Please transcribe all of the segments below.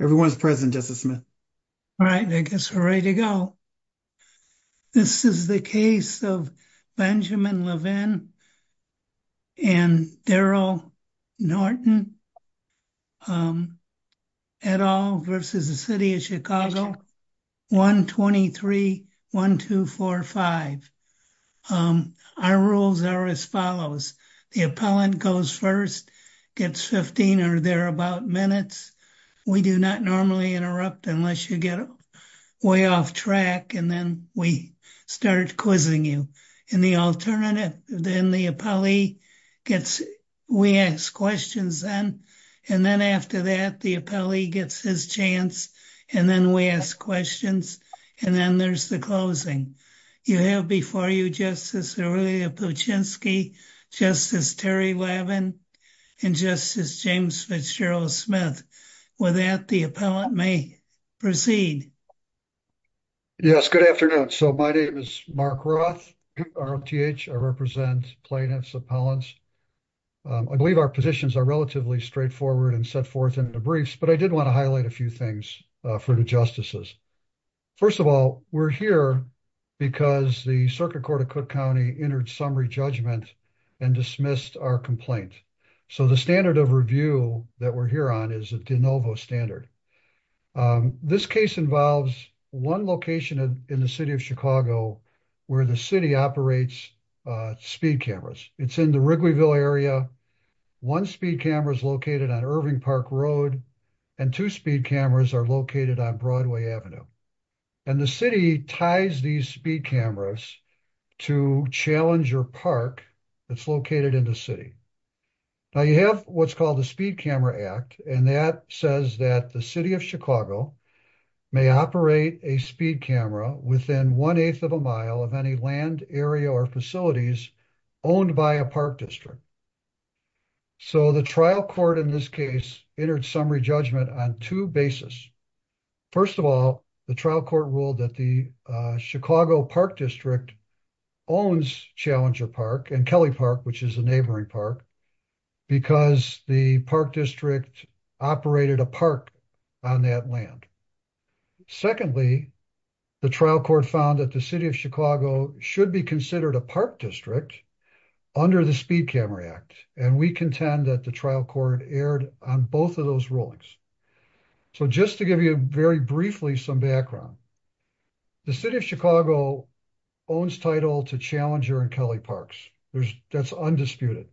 Everyone's present, Justice Smith. All right, I guess we're ready to go. This is the case of Benjamin Levin and Daryl Norton et al. v. City of Chicago, 123-1245. Our rules are as follows. The appellant goes first, gets 15 or thereabout minutes. We do not normally interrupt unless you get way off track, and then we start quizzing you. And the alternative, then the appellee gets, we ask questions then, and then after that, the appellee gets his chance, and then we ask questions, and then there's the closing. You have before you Justice Aurelia Puchinski, Justice Terry Levin, and Justice James Fitzgerald Smith. With that, the appellant may proceed. Yes, good afternoon. So, my name is Mark Roth. I represent plaintiff's appellants. I believe our positions are relatively straightforward and set forth in the briefs, but I did want to highlight a few things for the justices. First of all, we're here because the Circuit Court of Cook County entered summary judgment and dismissed our complaint. So the standard of review that we're here on is a de novo standard. This case involves one location in the city of Chicago where the city operates speed cameras. It's in the Wrigleyville area. One speed camera is located on Irving Park Road, and two speed cameras are located on Broadway Avenue. And the city ties these speed cameras to Challenger Park that's located in the city. Now, you have what's called the Speed Camera Act, and that says that the city of Chicago may operate a speed camera within one-eighth of a mile of any land, area, or facilities owned by a park district. So, the trial court in this case entered summary judgment on two bases. First of all, the trial court ruled that the Chicago Park District owns Challenger Park and Kelly Park, which is a neighboring park, because the park district operated a park on that land. Secondly, the trial court found that the city of Chicago should be considered a park district under the Speed Camera Act, and we contend that the trial court erred on both of those rulings. So, just to give you very briefly some background, the city of Chicago owns title to Challenger and Kelly Parks. That's undisputed.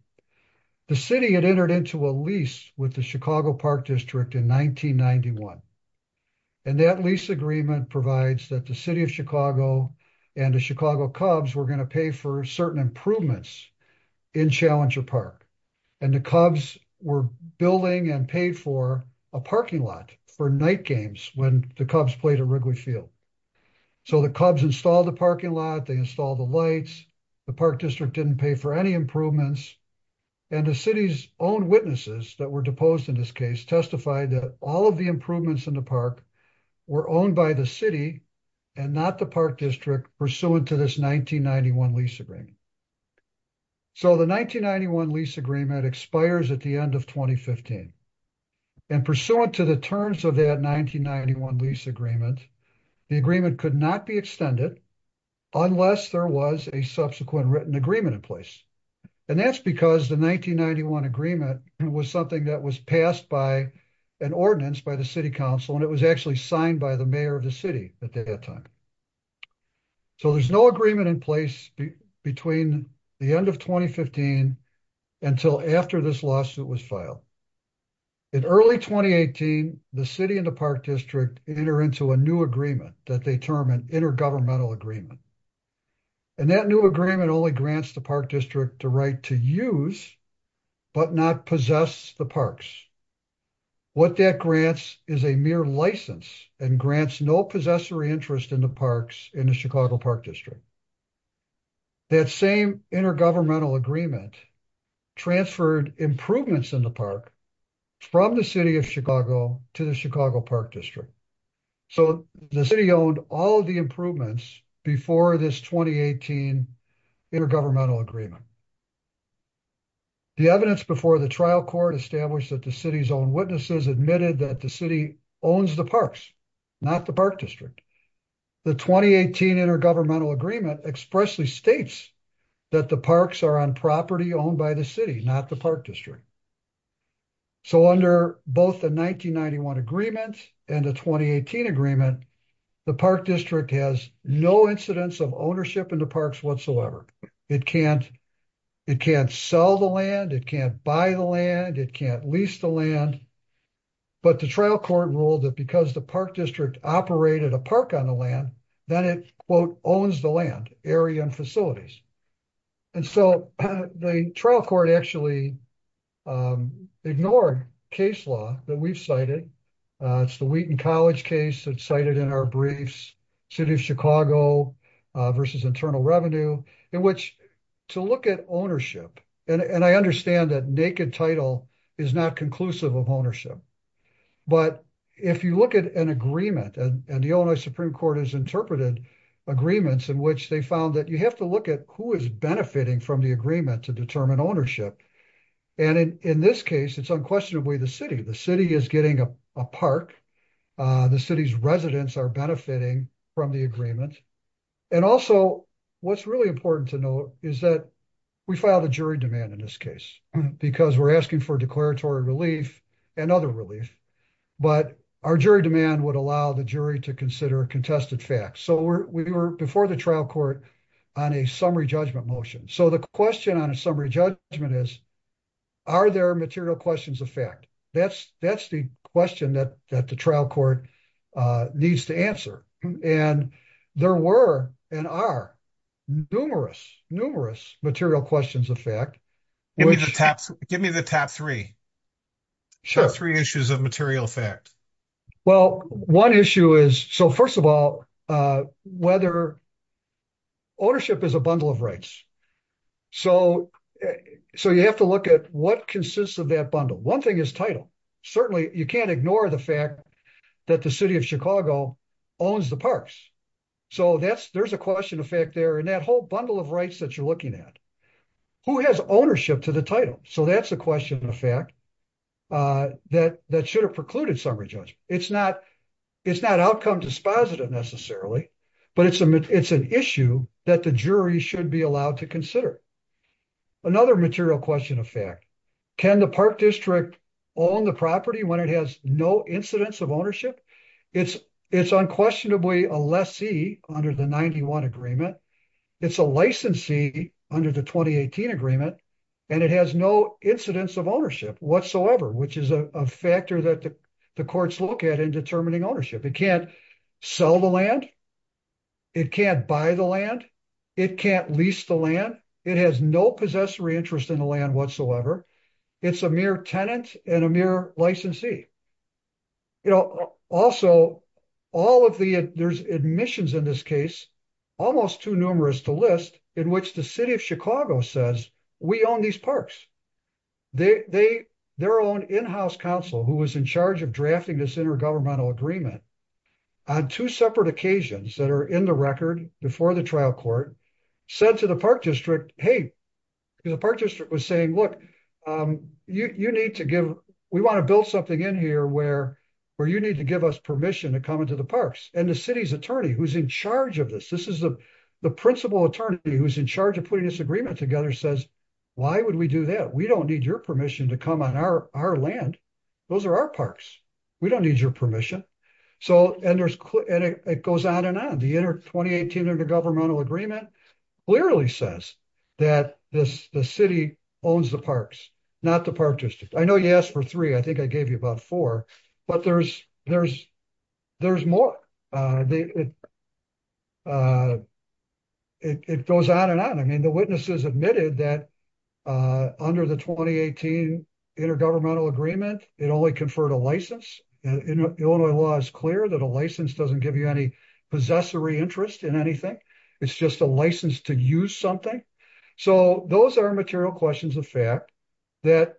The city had entered into a lease with the Chicago Park District in 1991, and that lease agreement provides that the city of Chicago and the Chicago Cubs were going to pay for certain improvements in Challenger Park. And the Cubs were building and paid for a parking lot for night games when the Cubs played at Wrigley Field. So, the Cubs installed the parking lot, they installed the lights, the park district didn't pay for any improvements, and the city's own witnesses that were deposed in this case testified that all of the improvements in the park were owned by the city and not the park district pursuant to this 1991 lease agreement. So, the 1991 lease agreement expires at the end of 2015, and pursuant to the terms of that 1991 lease agreement, the agreement could not be extended unless there was a subsequent written agreement in place. And that's because the 1991 agreement was something that was passed by an ordinance by the city council, and it was actually signed by the mayor of the city at that time. So, there's no agreement in place between the end of 2015 until after this lawsuit was filed. In early 2018, the city and the park district enter into a new agreement that they term an intergovernmental agreement. And that new agreement only grants the park district the right to use but not possess the parks. What that grants is a mere license and grants no possessory interest in the parks in the Chicago Park District. That same intergovernmental agreement transferred improvements in the park from the city of Chicago to the Chicago Park District. So, the city owned all of the improvements before this 2018 intergovernmental agreement. The evidence before the trial court established that the city's own witnesses admitted that the city owns the parks, not the park district. The 2018 intergovernmental agreement expressly states that the parks are on property owned by the city, not the park district. So, under both the 1991 agreement and the 2018 agreement, the park district has no incidence of ownership in the parks whatsoever. It can't sell the land. It can't buy the land. It can't lease the land. But the trial court ruled that because the park district operated a park on the land, then it, quote, owns the land, area, and facilities. And so, the trial court actually ignored case law that we've cited. It's the Wheaton College case that's cited in our briefs, city of Chicago versus internal revenue, in which to look at ownership, and I understand that naked title is not conclusive of ownership. But if you look at an agreement, and the Illinois Supreme Court has interpreted agreements in which they found that you have to look at who is benefiting from the agreement to determine ownership. And in this case, it's unquestionably the city. The city is getting a park. The city's residents are benefiting from the agreement. And also, what's really important to know is that we filed a jury demand in this case, because we're asking for declaratory relief and other relief. But our jury demand would allow the jury to consider contested facts. So, we were before the trial court on a summary judgment motion. So, the question on a summary judgment is, are there material questions of fact? That's the question that the trial court needs to answer. And there were and are numerous, numerous material questions of fact. Give me the top three. Sure. Three issues of material fact. Well, one issue is, so first of all, whether ownership is a bundle of rights. So, you have to look at what consists of that bundle. One thing is title. Certainly, you can't ignore the fact that the city of Chicago owns the parks. So, there's a question of fact there in that whole bundle of rights that you're looking at. Who has ownership to the title? So, that's a question of fact that should have precluded summary judgment. It's not outcome dispositive necessarily, but it's an issue that the jury should be allowed to consider. Another material question of fact. Can the park district own the property when it has no incidence of ownership? It's unquestionably a lessee under the 91 agreement. It's a licensee under the 2018 agreement. And it has no incidence of ownership whatsoever, which is a factor that the courts look at in determining ownership. It can't sell the land. It can't buy the land. It can't lease the land. It has no possessory interest in the land whatsoever. It's a mere tenant and a mere licensee. Also, there's admissions in this case, almost too numerous to list, in which the city of Chicago says, we own these parks. Their own in-house counsel, who was in charge of drafting this intergovernmental agreement, on two separate occasions that are in the record before the trial court, said to the park district, hey, the park district was saying, look, we want to build something in here where you need to give us permission to come into the parks. And the city's attorney, who's in charge of this, this is the principal attorney who's in charge of putting this agreement together, says, why would we do that? We don't need your permission to come on our land. Those are our parks. We don't need your permission. And it goes on and on. The 2018 intergovernmental agreement literally says that the city owns the parks, not the park district. I know you asked for three. I think I gave you about four, but there's more. It goes on and on. I mean, the witnesses admitted that under the 2018 intergovernmental agreement, it only conferred a license. Illinois law is clear that a license doesn't give you any possessory interest in anything. It's just a license to use something. So those are material questions of fact that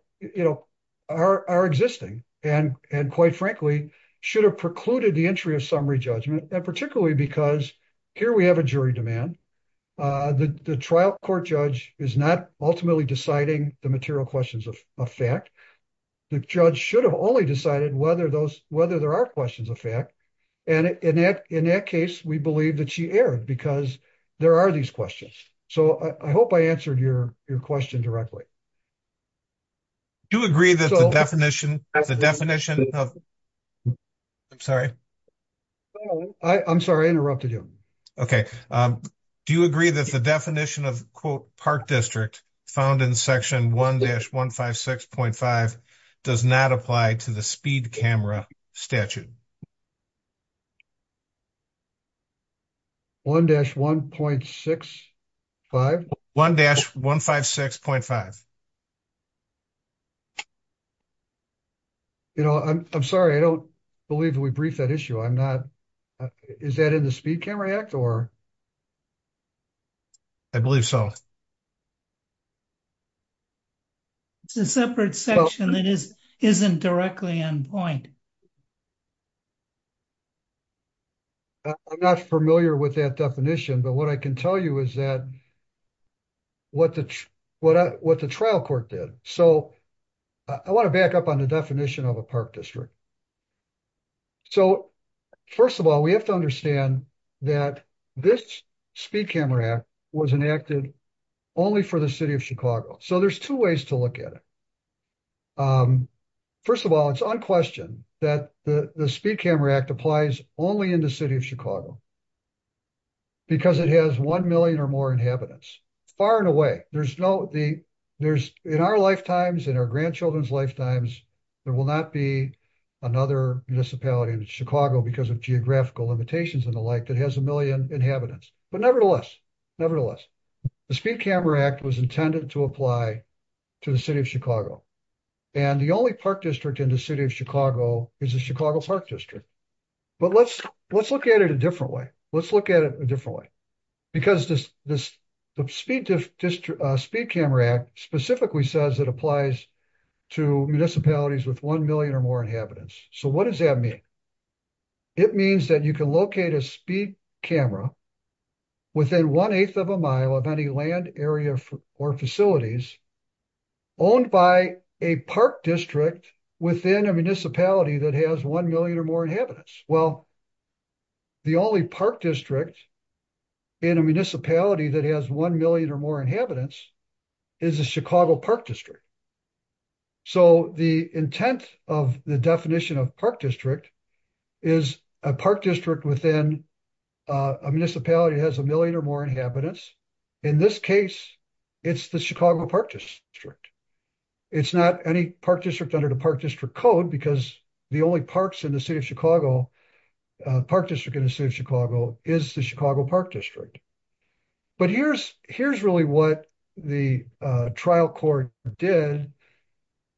are existing, and quite frankly, should have precluded the entry of summary judgment, particularly because here we have a jury demand. The trial court judge is not ultimately deciding the material questions of fact. The judge should have only decided whether there are questions of fact. And in that case, we believe that she erred because there are these questions. So I hope I answered your question directly. Do you agree that the definition of... I'm sorry. I'm sorry I interrupted you. Okay. Do you agree that the definition of quote park district found in section 1-156.5 does not apply to the speed camera statute? 1-1.65? 1-156.5. You know, I'm sorry. I don't believe we briefed that issue. I'm not. Is that in the speed camera act or? I believe so. It's a separate section that isn't directly on point. I'm not familiar with that definition, but what I can tell you is that what the trial court did. So I want to back up on the definition of a park district. So, first of all, we have to understand that this speed camera act was enacted only for the city of Chicago. So there's two ways to look at it. First of all, it's unquestioned that the speed camera act applies only in the city of Chicago. Because it has 1 million or more inhabitants. Far and away. In our lifetimes, in our grandchildren's lifetimes, there will not be another municipality in Chicago because of geographical limitations and the like that has a million inhabitants. But nevertheless, nevertheless, the speed camera act was intended to apply to the city of Chicago. And the only park district in the city of Chicago is the Chicago Park District. But let's look at it a different way. Let's look at it a different way. Because the speed camera act specifically says it applies to municipalities with 1 million or more inhabitants. So what does that mean? It means that you can locate a speed camera within 1 8th of a mile of any land area or facilities. Owned by a park district within a municipality that has 1 million or more inhabitants. Well. The only park district in a municipality that has 1 million or more inhabitants is the Chicago Park District. So, the intent of the definition of park district. Is a park district within a municipality has a million or more inhabitants. In this case, it's the Chicago Park District. It's not any park district under the park district code because the only parks in the city of Chicago. Park district in the city of Chicago is the Chicago Park District. But here's really what the trial court did.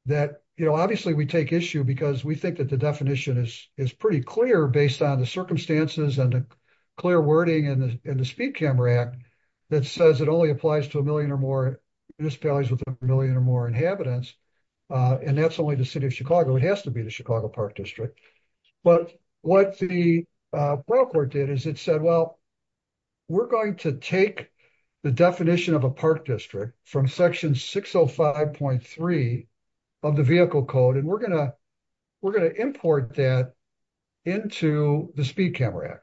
That, you know, obviously we take issue because we think that the definition is pretty clear based on the circumstances and the clear wording and the speed camera act. That says it only applies to a million or more municipalities with a million or more inhabitants. And that's only the city of Chicago. It has to be the Chicago Park District. But what the report did is it said, well. We're going to take the definition of a park district from section 605.3 of the vehicle code and we're going to. We're going to import that into the speed camera.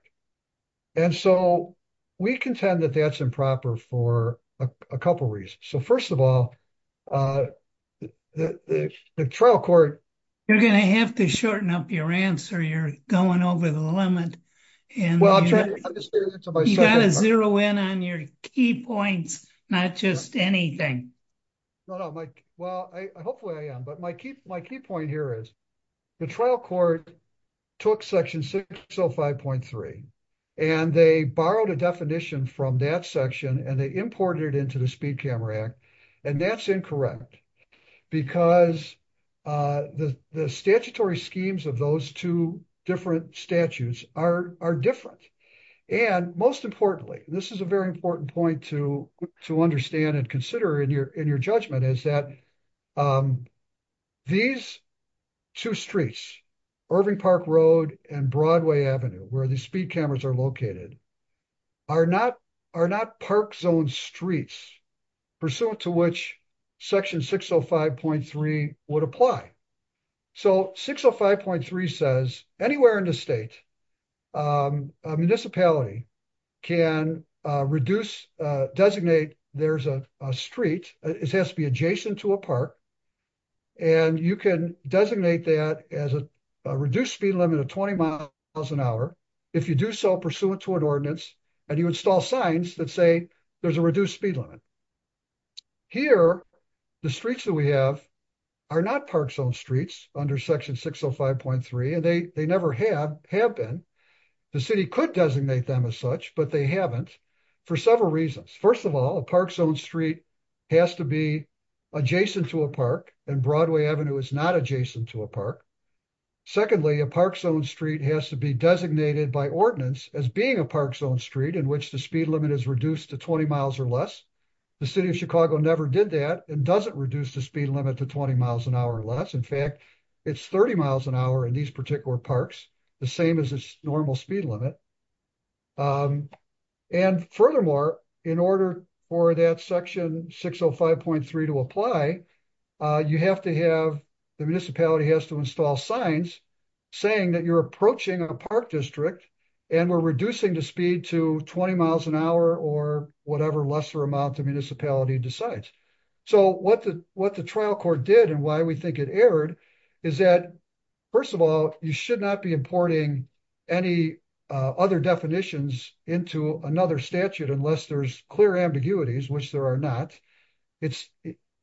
And so we contend that that's improper for a couple reasons. So, 1st of all. The trial court. You're going to have to shorten up your answer. You're going over the limit. Well, I'm trying to understand. You got to zero in on your key points, not just anything. Well, hopefully I am, but my key point here is. The trial court took section 605.3 and they borrowed a definition from that section and they imported into the speed camera act and that's incorrect. Because the statutory schemes of those 2 different statutes are different. And most importantly, this is a very important point to to understand and consider in your judgment is that. These 2 streets Irving Park Road and Broadway Avenue, where the speed cameras are located. Are not are not park zone streets pursuant to which section 605.3 would apply. So, 605.3 says anywhere in the state municipality can reduce designate there's a street, it has to be adjacent to a park. And you can designate that as a reduced speed limit of 20 miles an hour. If you do so pursuant to an ordinance, and you install signs that say there's a reduced speed limit. Here, the streets that we have are not park zone streets under section 605.3 and they, they never have have been. The city could designate them as such, but they haven't for several reasons. First of all, a park zone street has to be adjacent to a park and Broadway Avenue is not adjacent to a park. Secondly, a park zone street has to be designated by ordinance as being a park zone street in which the speed limit is reduced to 20 miles or less. The city of Chicago never did that and doesn't reduce the speed limit to 20 miles an hour or less. In fact, it's 30 miles an hour in these particular parks, the same as normal speed limit. And furthermore, in order for that section 605.3 to apply, you have to have the municipality has to install signs saying that you're approaching a park district, and we're reducing the speed to 20 miles an hour or whatever lesser amount the municipality decides. So what the trial court did and why we think it erred is that, first of all, you should not be importing any other definitions into another statute unless there's clear ambiguities, which there are not. And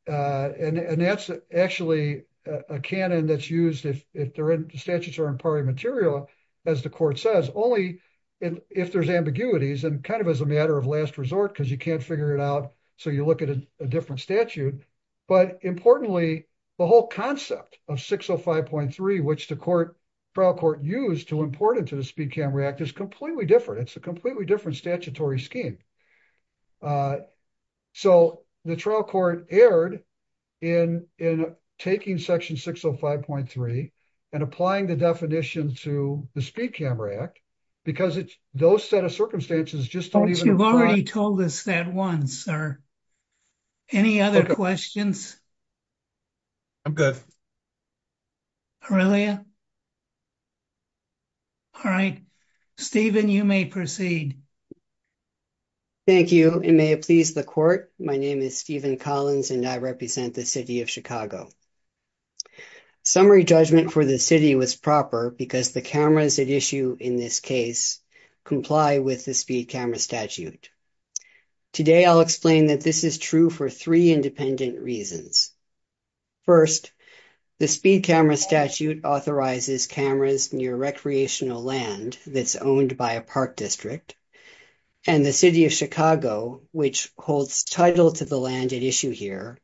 that's actually a canon that's used if the statutes are in party material, as the court says, only if there's ambiguities and kind of as a matter of last resort because you can't figure it out. So you look at a different statute. But importantly, the whole concept of 605.3 which the trial court used to import into the Speed Cam React is completely different. It's a completely different statutory scheme. So, the trial court erred in taking section 605.3 and applying the definition to the Speed Cam React, because those set of circumstances just don't even apply. You've already told us that once, sir. Any other questions? I'm good. Aurelia? All right, Stephen, you may proceed. Thank you, and may it please the court. My name is Stephen Collins and I represent the city of Chicago. Summary judgment for the city was proper because the cameras at issue in this case comply with the Speed Camera statute. Today, I'll explain that this is true for three independent reasons. First, the Speed Camera statute authorizes cameras near recreational land that's owned by a park district, and the city of Chicago, which holds title to the land at issue here,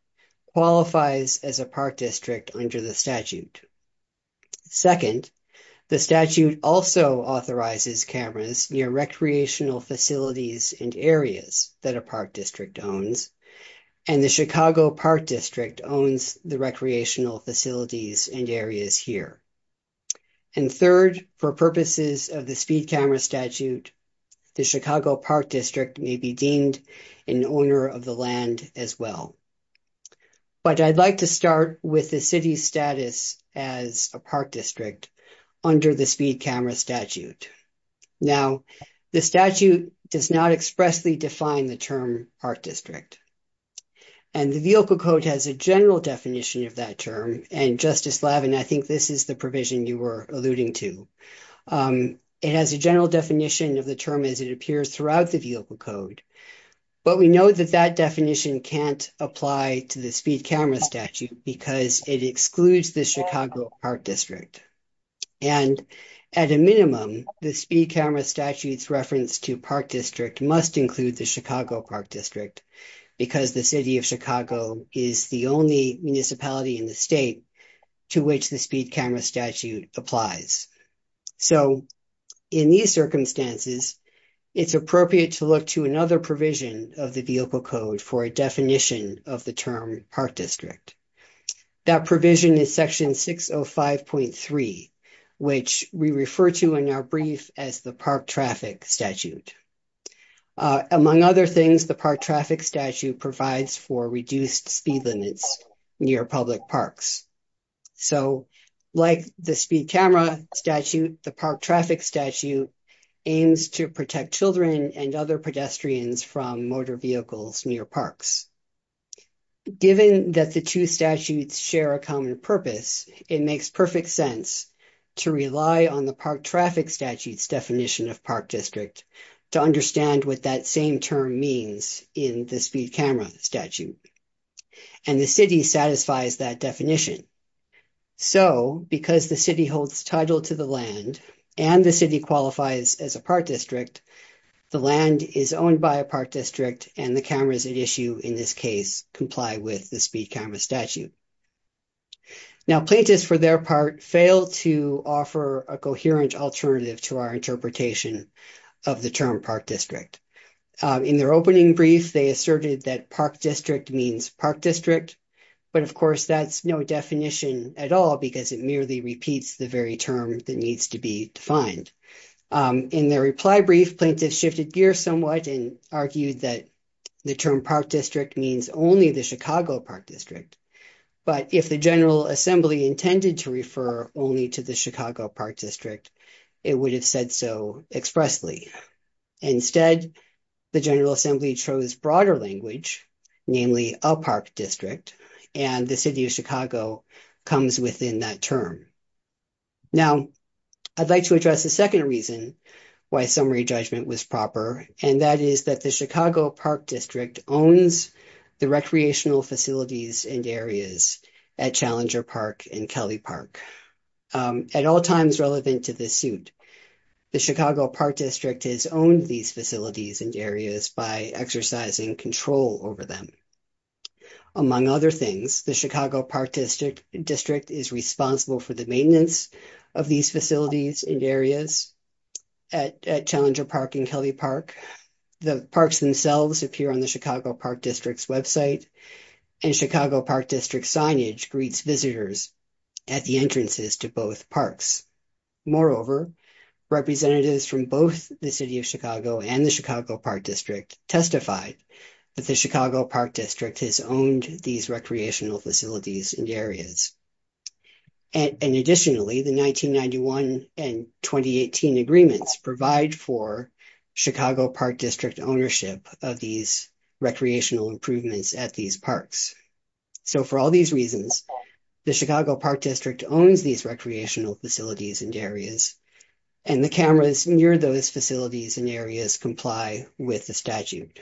qualifies as a park district under the statute. Second, the statute also authorizes cameras near recreational facilities and areas that a park district owns, and the Chicago Park District owns the recreational facilities and areas here. And third, for purposes of the Speed Camera statute, the Chicago Park District may be deemed an owner of the land as well. But I'd like to start with the city's status as a park district under the Speed Camera statute. Now, the statute does not expressly define the term park district. And the vehicle code has a general definition of that term, and Justice Lavin, I think this is the provision you were alluding to. It has a general definition of the term as it appears throughout the vehicle code. But we know that that definition can't apply to the Speed Camera statute because it excludes the Chicago Park District. And at a minimum, the Speed Camera statute's reference to park district must include the Chicago Park District because the city of Chicago is the only municipality in the state to which the Speed Camera statute applies. So, in these circumstances, it's appropriate to look to another provision of the vehicle code for a definition of the term park district. That provision is Section 605.3, which we refer to in our brief as the Park Traffic Statute. Among other things, the Park Traffic Statute provides for reduced speed limits near public parks. So, like the Speed Camera statute, the Park Traffic Statute aims to protect children and other pedestrians from motor vehicles near parks. Given that the two statutes share a common purpose, it makes perfect sense to rely on the Park Traffic Statute's definition of park district to understand what that same term means in the Speed Camera statute. And the city satisfies that definition. So, because the city holds title to the land, and the city qualifies as a park district, the land is owned by a park district, and the cameras at issue in this case comply with the Speed Camera statute. Now, plaintiffs, for their part, failed to offer a coherent alternative to our interpretation of the term park district. In their opening brief, they asserted that park district means park district. But, of course, that's no definition at all because it merely repeats the very term that needs to be defined. In their reply brief, plaintiffs shifted gears somewhat and argued that the term park district means only the Chicago Park District. But if the General Assembly intended to refer only to the Chicago Park District, it would have said so expressly. Instead, the General Assembly chose broader language, namely a park district, and the city of Chicago comes within that term. Now, I'd like to address a second reason why summary judgment was proper, and that is that the Chicago Park District owns the recreational facilities and areas at Challenger Park and Kelly Park. At all times relevant to this suit, the Chicago Park District has owned these facilities and areas by exercising control over them. Among other things, the Chicago Park District is responsible for the maintenance of these facilities and areas at Challenger Park and Kelly Park. The parks themselves appear on the Chicago Park District's website, and Chicago Park District signage greets visitors at the entrances to both parks. Moreover, representatives from both the city of Chicago and the Chicago Park District testified that the Chicago Park District has owned these recreational facilities and areas. Additionally, the 1991 and 2018 agreements provide for Chicago Park District ownership of these recreational improvements at these parks. So, for all these reasons, the Chicago Park District owns these recreational facilities and areas, and the cameras near those facilities and areas comply with the statute.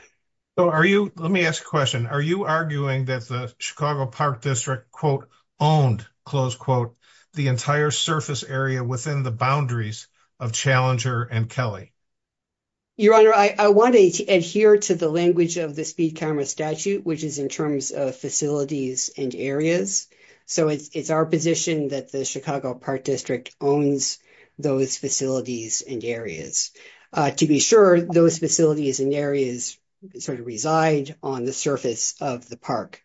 Let me ask a question. Are you arguing that the Chicago Park District, quote, owned, close quote, the entire surface area within the boundaries of Challenger and Kelly? Your Honor, I want to adhere to the language of the speed camera statute, which is in terms of facilities and areas. So, it's our position that the Chicago Park District owns those facilities and areas. To be sure, those facilities and areas sort of reside on the surface of the park.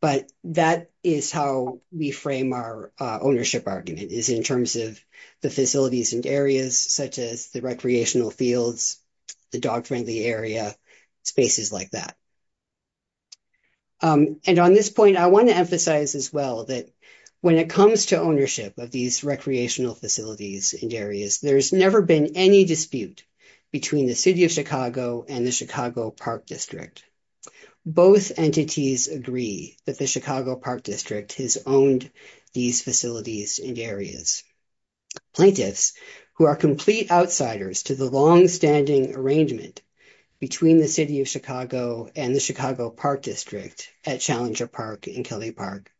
But that is how we frame our ownership argument is in terms of the facilities and areas, such as the recreational fields, the dog friendly area, spaces like that. And on this point, I want to emphasize as well that when it comes to ownership of these recreational facilities and areas, there's never been any dispute between the city of Chicago and the Chicago Park District. Both entities agree that the Chicago Park District has owned these facilities and areas. Plaintiffs, who are complete outsiders to the longstanding arrangement between the city of Chicago and the Chicago Park District at Challenger Park and Kelly Park,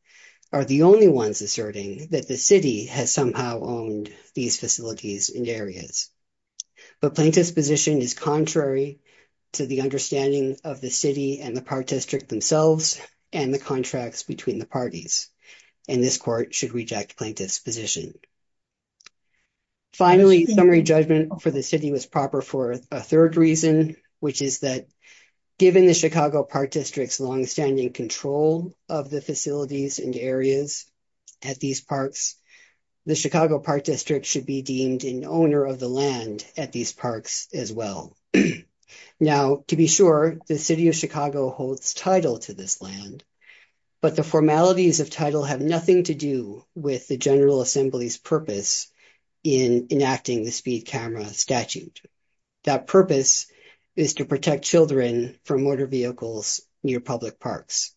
are the only ones asserting that the city has somehow owned these facilities and areas. But plaintiff's position is contrary to the understanding of the city and the park district themselves and the contracts between the parties. And this court should reject plaintiff's position. Finally, summary judgment for the city was proper for a 3rd reason, which is that given the Chicago Park District's longstanding control of the facilities and areas at these parks, the Chicago Park District should be deemed an owner of the land at these parks as well. Now, to be sure, the city of Chicago holds title to this land, but the formalities of title have nothing to do with the General Assembly's purpose in enacting the speed camera statute. That purpose is to protect children from motor vehicles near public parks.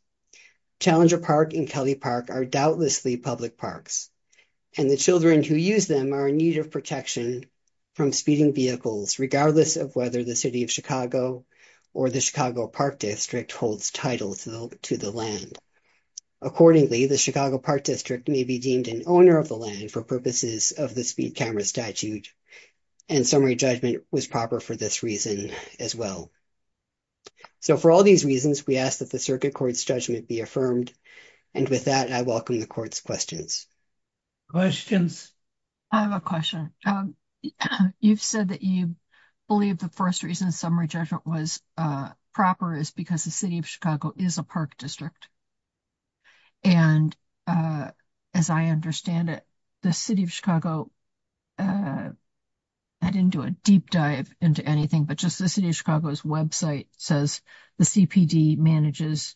Challenger Park and Kelly Park are doubtlessly public parks, and the children who use them are in need of protection from speeding vehicles, regardless of whether the city of Chicago or the Chicago Park District holds title to the land. Accordingly, the Chicago Park District may be deemed an owner of the land for purposes of the speed camera statute, and summary judgment was proper for this reason as well. So, for all these reasons, we ask that the circuit court's judgment be affirmed. And with that, I welcome the court's questions. Questions. I have a question. You've said that you believe the 1st reason summary judgment was proper is because the city of Chicago is a park district. And as I understand it, the city of Chicago. I didn't do a deep dive into anything, but just the city of Chicago's website says the manages.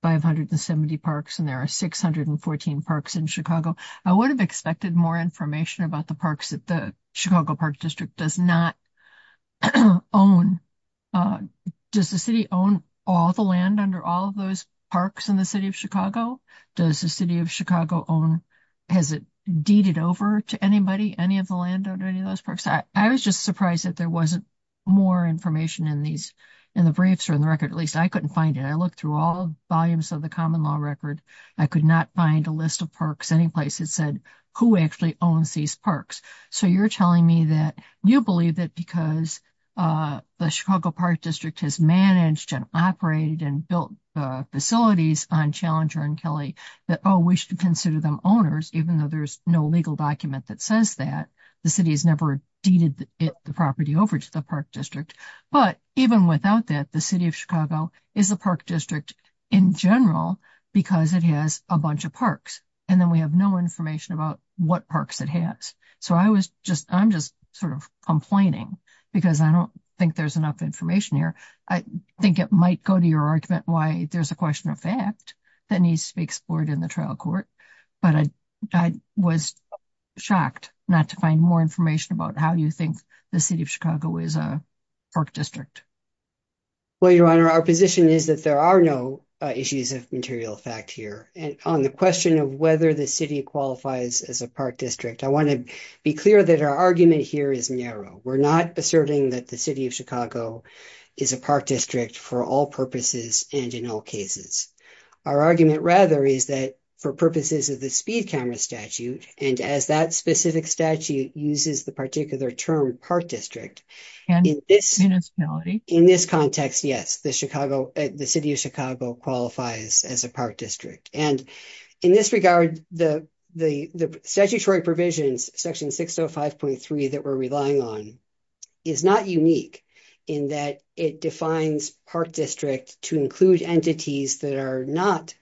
570 parks, and there are 614 parks in Chicago. I would have expected more information about the parks that the Chicago Park District does not own. Does the city own all the land under all of those parks in the city of Chicago? Does the city of Chicago own? Has it deeded over to anybody? Any of the land under any of those parks? I was just surprised that there wasn't more information in these in the briefs or in the record. At least I couldn't find it. I looked through all volumes of the common law record. I could not find a list of parks, any place that said who actually owns these parks. So you're telling me that you believe that because the Chicago Park District has managed and operated and built facilities on Challenger and Kelly that we should consider them owners, even though there's no legal document that says that the city has never deeded the property over to the park district. But even without that, the city of Chicago is a park district in general because it has a bunch of parks, and then we have no information about what parks it has. So I was just, I'm just sort of complaining because I don't think there's enough information here. I think it might go to your argument why there's a question of fact that needs to be explored in the trial court, but I was shocked not to find more information about how you think the city of Chicago is a park district. Well, Your Honor, our position is that there are no issues of material fact here, and on the question of whether the city qualifies as a park district, I want to be clear that our argument here is narrow. We're not asserting that the city of Chicago is a park district for all purposes and in all cases. Our argument, rather, is that for purposes of the speed camera statute, and as that specific statute uses the particular term park district, in this context, yes, the city of Chicago qualifies as a park district. And in this regard, the statutory provisions, section 605.3 that we're relying on, is not unique in that it defines park district to include entities that are not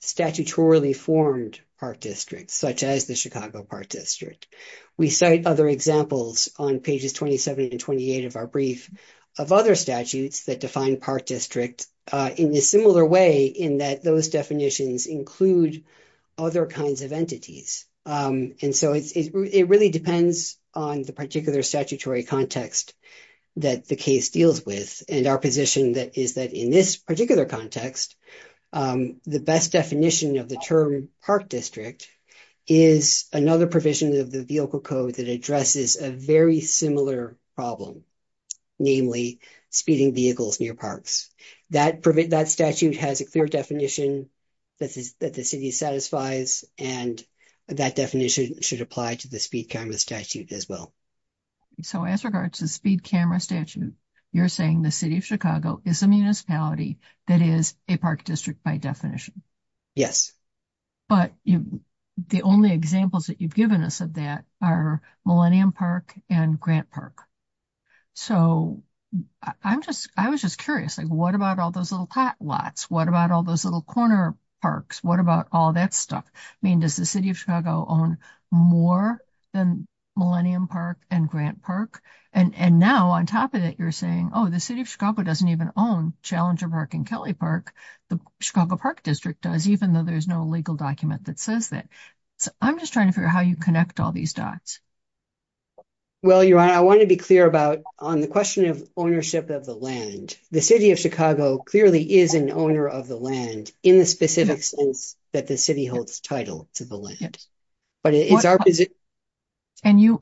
statutorily formed park districts, such as the Chicago Park District. We cite other examples on pages 27 and 28 of our brief of other statutes that define park district in a similar way in that those definitions include other kinds of entities. And so it really depends on the particular statutory context that the case deals with, and our position is that in this particular context, the best definition of the term park district is another provision of the vehicle code that addresses a very similar problem, namely speeding vehicles near parks. That statute has a clear definition that the city satisfies and that definition should apply to the speed camera statute as well. So, as regards to speed camera statute, you're saying the city of Chicago is a municipality that is a park district by definition? Yes. But the only examples that you've given us of that are Millennium Park and Grant Park. So, I'm just, I was just curious, like, what about all those little plot lots? What about all those little corner parks? What about all that stuff? I mean, does the city of Chicago own more than Millennium Park and Grant Park? And now, on top of that, you're saying, oh, the city of Chicago doesn't even own Challenger Park and Kelly Park. The Chicago Park District does, even though there's no legal document that says that. I'm just trying to figure out how you connect all these dots. Well, your honor, I want to be clear about on the question of ownership of the land. The city of Chicago clearly is an owner of the land in the specific sense that the city holds title to the land. But it's our position. And you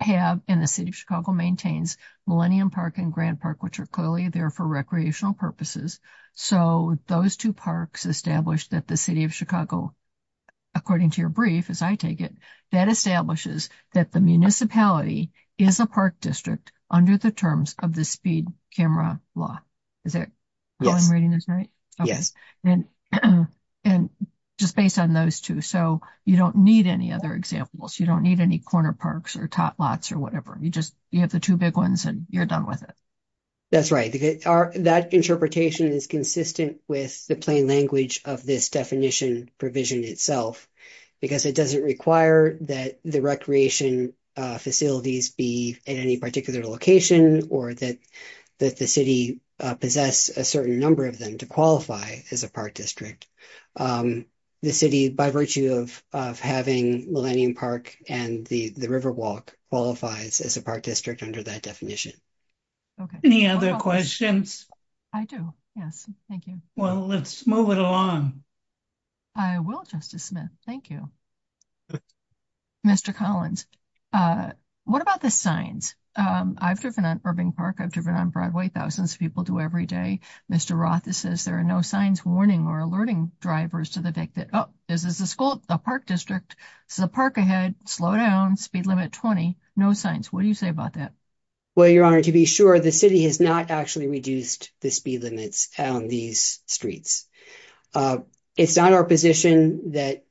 have in the city of Chicago maintains Millennium Park and Grant Park, which are clearly there for recreational purposes. So, those 2 parks established that the city of Chicago, according to your brief, as I take it, that establishes that the municipality is a park district under the terms of the speed camera law. Is that how I'm reading this right? And just based on those 2, so you don't need any other examples. You don't need any corner parks or plot lots or whatever. You just, you have the 2 big ones and you're done with it. That's right. That interpretation is consistent with the plain language of this definition provision itself, because it doesn't require that the recreation facilities be at any particular location, or that the city possess a certain number of them to qualify as a park district. The city, by virtue of having Millennium Park and the Riverwalk qualifies as a park district under that definition. Any other questions? I do. Yes. Thank you. Well, let's move it along. I will, Justice Smith. Thank you. Mr. Collins, what about the signs? I've driven on Irving Park, I've driven on Broadway, thousands of people do every day. Mr. Roth says there are no signs warning or alerting drivers to the victim. Oh, this is the school, the park district, so park ahead, slow down, speed limit 20, no signs. What do you say about that? Well, Your Honor, to be sure, the city has not actually reduced the speed limits on these streets. It's not our position that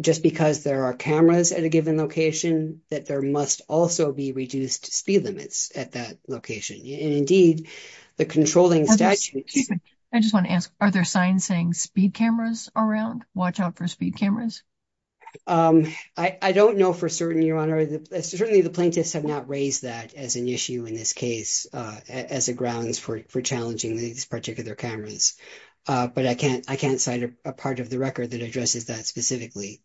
just because there are cameras at a given location, that there must also be reduced speed limits at that location. And indeed, the controlling statute... Excuse me, I just want to ask, are there signs saying speed cameras around? Watch out for speed cameras? I don't know for certain, Your Honor. Certainly, the plaintiffs have not raised that as an issue in this case, as a grounds for challenging these particular cameras. But I can't cite a part of the record that addresses that specifically.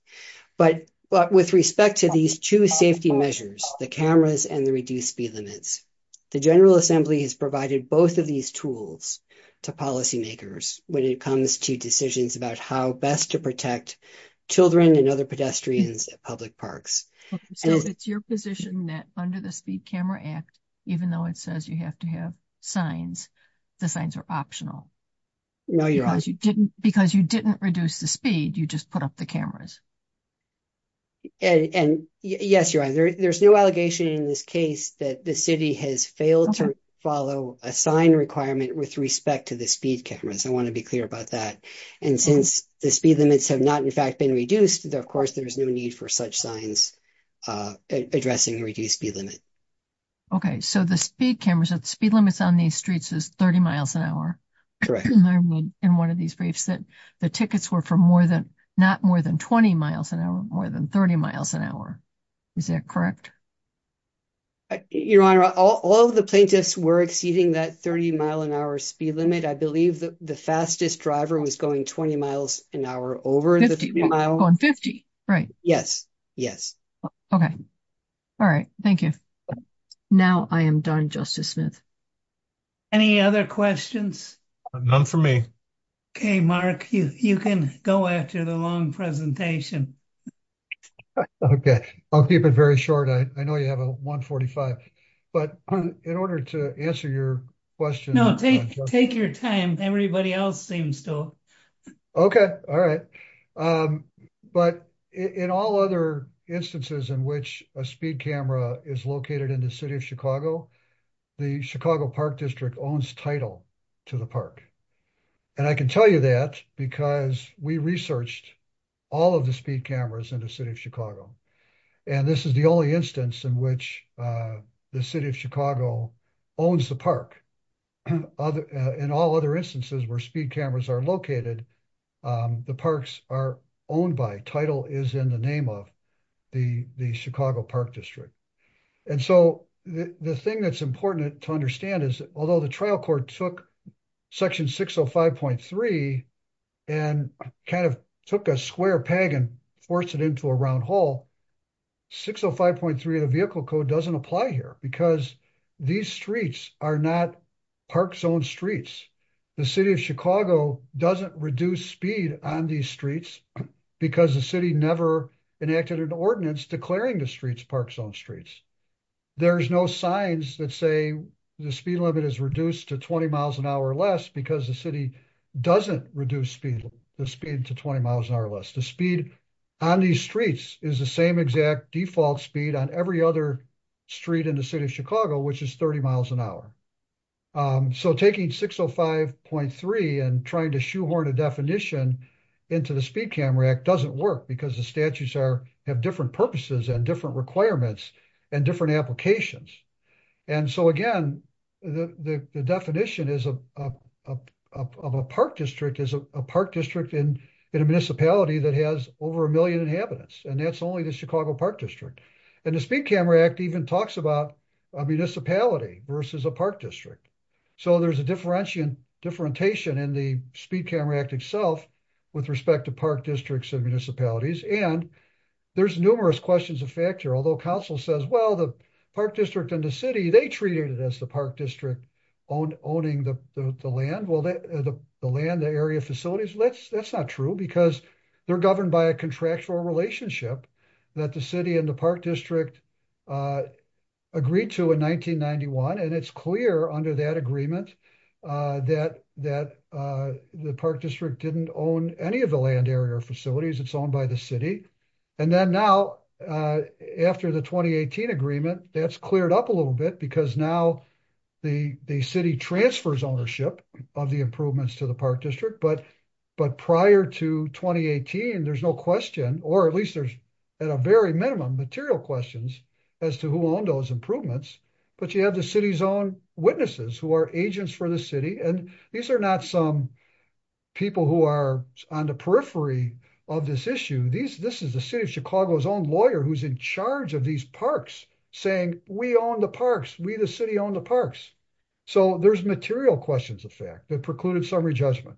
But with respect to these two safety measures, the cameras and the reduced speed limits, the General Assembly has provided both of these tools to policymakers when it comes to decisions about how best to protect children and other pedestrians at public parks. So it's your position that under the Speed Camera Act, even though it says you have to have signs, the signs are optional? No, Your Honor. Because you didn't reduce the speed, you just put up the cameras? And yes, Your Honor, there's no allegation in this case that the city has failed to follow a sign requirement with respect to the speed cameras. I want to be clear about that. And since the speed limits have not, in fact, been reduced, of course, there's no need for such signs addressing the reduced speed limit. Okay, so the speed cameras, the speed limits on these streets is 30 miles an hour. Correct. I read in one of these briefs that the tickets were for not more than 20 miles an hour, more than 30 miles an hour. Is that correct? Your Honor, all of the plaintiffs were exceeding that 30 mile an hour speed limit. I believe the fastest driver was going 20 miles an hour over the speed limit. Going 50? Right. Yes, yes. Okay. All right. Thank you. Now I am done, Justice Smith. Any other questions? None for me. Okay, Mark, you can go after the long presentation. Okay, I'll keep it very short. I know you have a 145. But in order to answer your question. No, take your time. Everybody else seems to. Okay, all right. But in all other instances in which a speed camera is located in the city of Chicago, the Chicago Park District owns title to the park. And I can tell you that because we researched all of the speed cameras in the city of Chicago. And this is the only instance in which the city of Chicago owns the park. In all other instances where speed cameras are located, the parks are owned by title is in the name of the Chicago Park District. And so the thing that's important to understand is that although the trial court took section 605.3 and kind of took a square peg and force it into a round hole 605.3 of the vehicle code doesn't apply here because these streets are not park zone streets. The city of Chicago doesn't reduce speed on these streets, because the city never enacted an ordinance declaring the streets park zone streets. There's no signs that say the speed limit is reduced to 20 miles an hour less because the city doesn't reduce speed, the speed to 20 miles an hour less the speed on the streets is the same exact default speed on every other street in the city of Chicago, which is 30 miles an hour. So taking 605.3 and trying to shoehorn a definition into the Speed Camera Act doesn't work because the statutes are have different purposes and different requirements and different applications. And so again, the definition is a park district is a park district in a municipality that has over a million inhabitants and that's only the Chicago Park District. And the Speed Camera Act even talks about a municipality versus a park district. So there's a differentiation in the Speed Camera Act itself, with respect to park districts and municipalities and there's numerous questions of factor although council says well the park district and the city they treated it as the park district own owning the land well that the land the area facilities let's that's not true because they're governed by a contractual relationship that the city and the park district agreed to in 1991 and it's clear under that agreement that that the park district didn't own any of the land area facilities it's owned by the city. And then now, after the 2018 agreement that's cleared up a little bit because now the the city transfers ownership of the improvements to the park district but but prior to 2018 there's no question, or at least there's at a very minimum material questions as to who those improvements, but you have the city's own witnesses who are agents for the city and these are not some people who are on the periphery of this issue these this is the city of Chicago's own lawyer who's in charge of these parks, saying, we own the parks we the city own the parks. So there's material questions of fact that precluded summary judgment.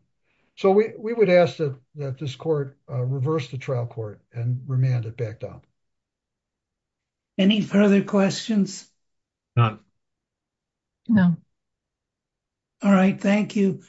So we would ask that that this court reverse the trial court and remanded back down. Any further questions. No, no. All right, thank you.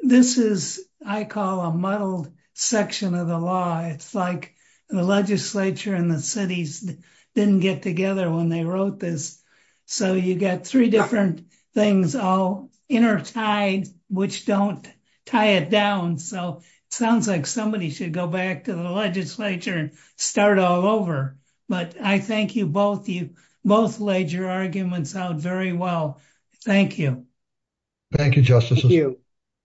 This is, I call a muddled section of the law, it's like the legislature and the cities didn't get together when they wrote this. So you got three different things all intertied, which don't tie it down so sounds like somebody should go back to the legislature and start But I thank you both you both laid your arguments out very well. Thank you. Thank you.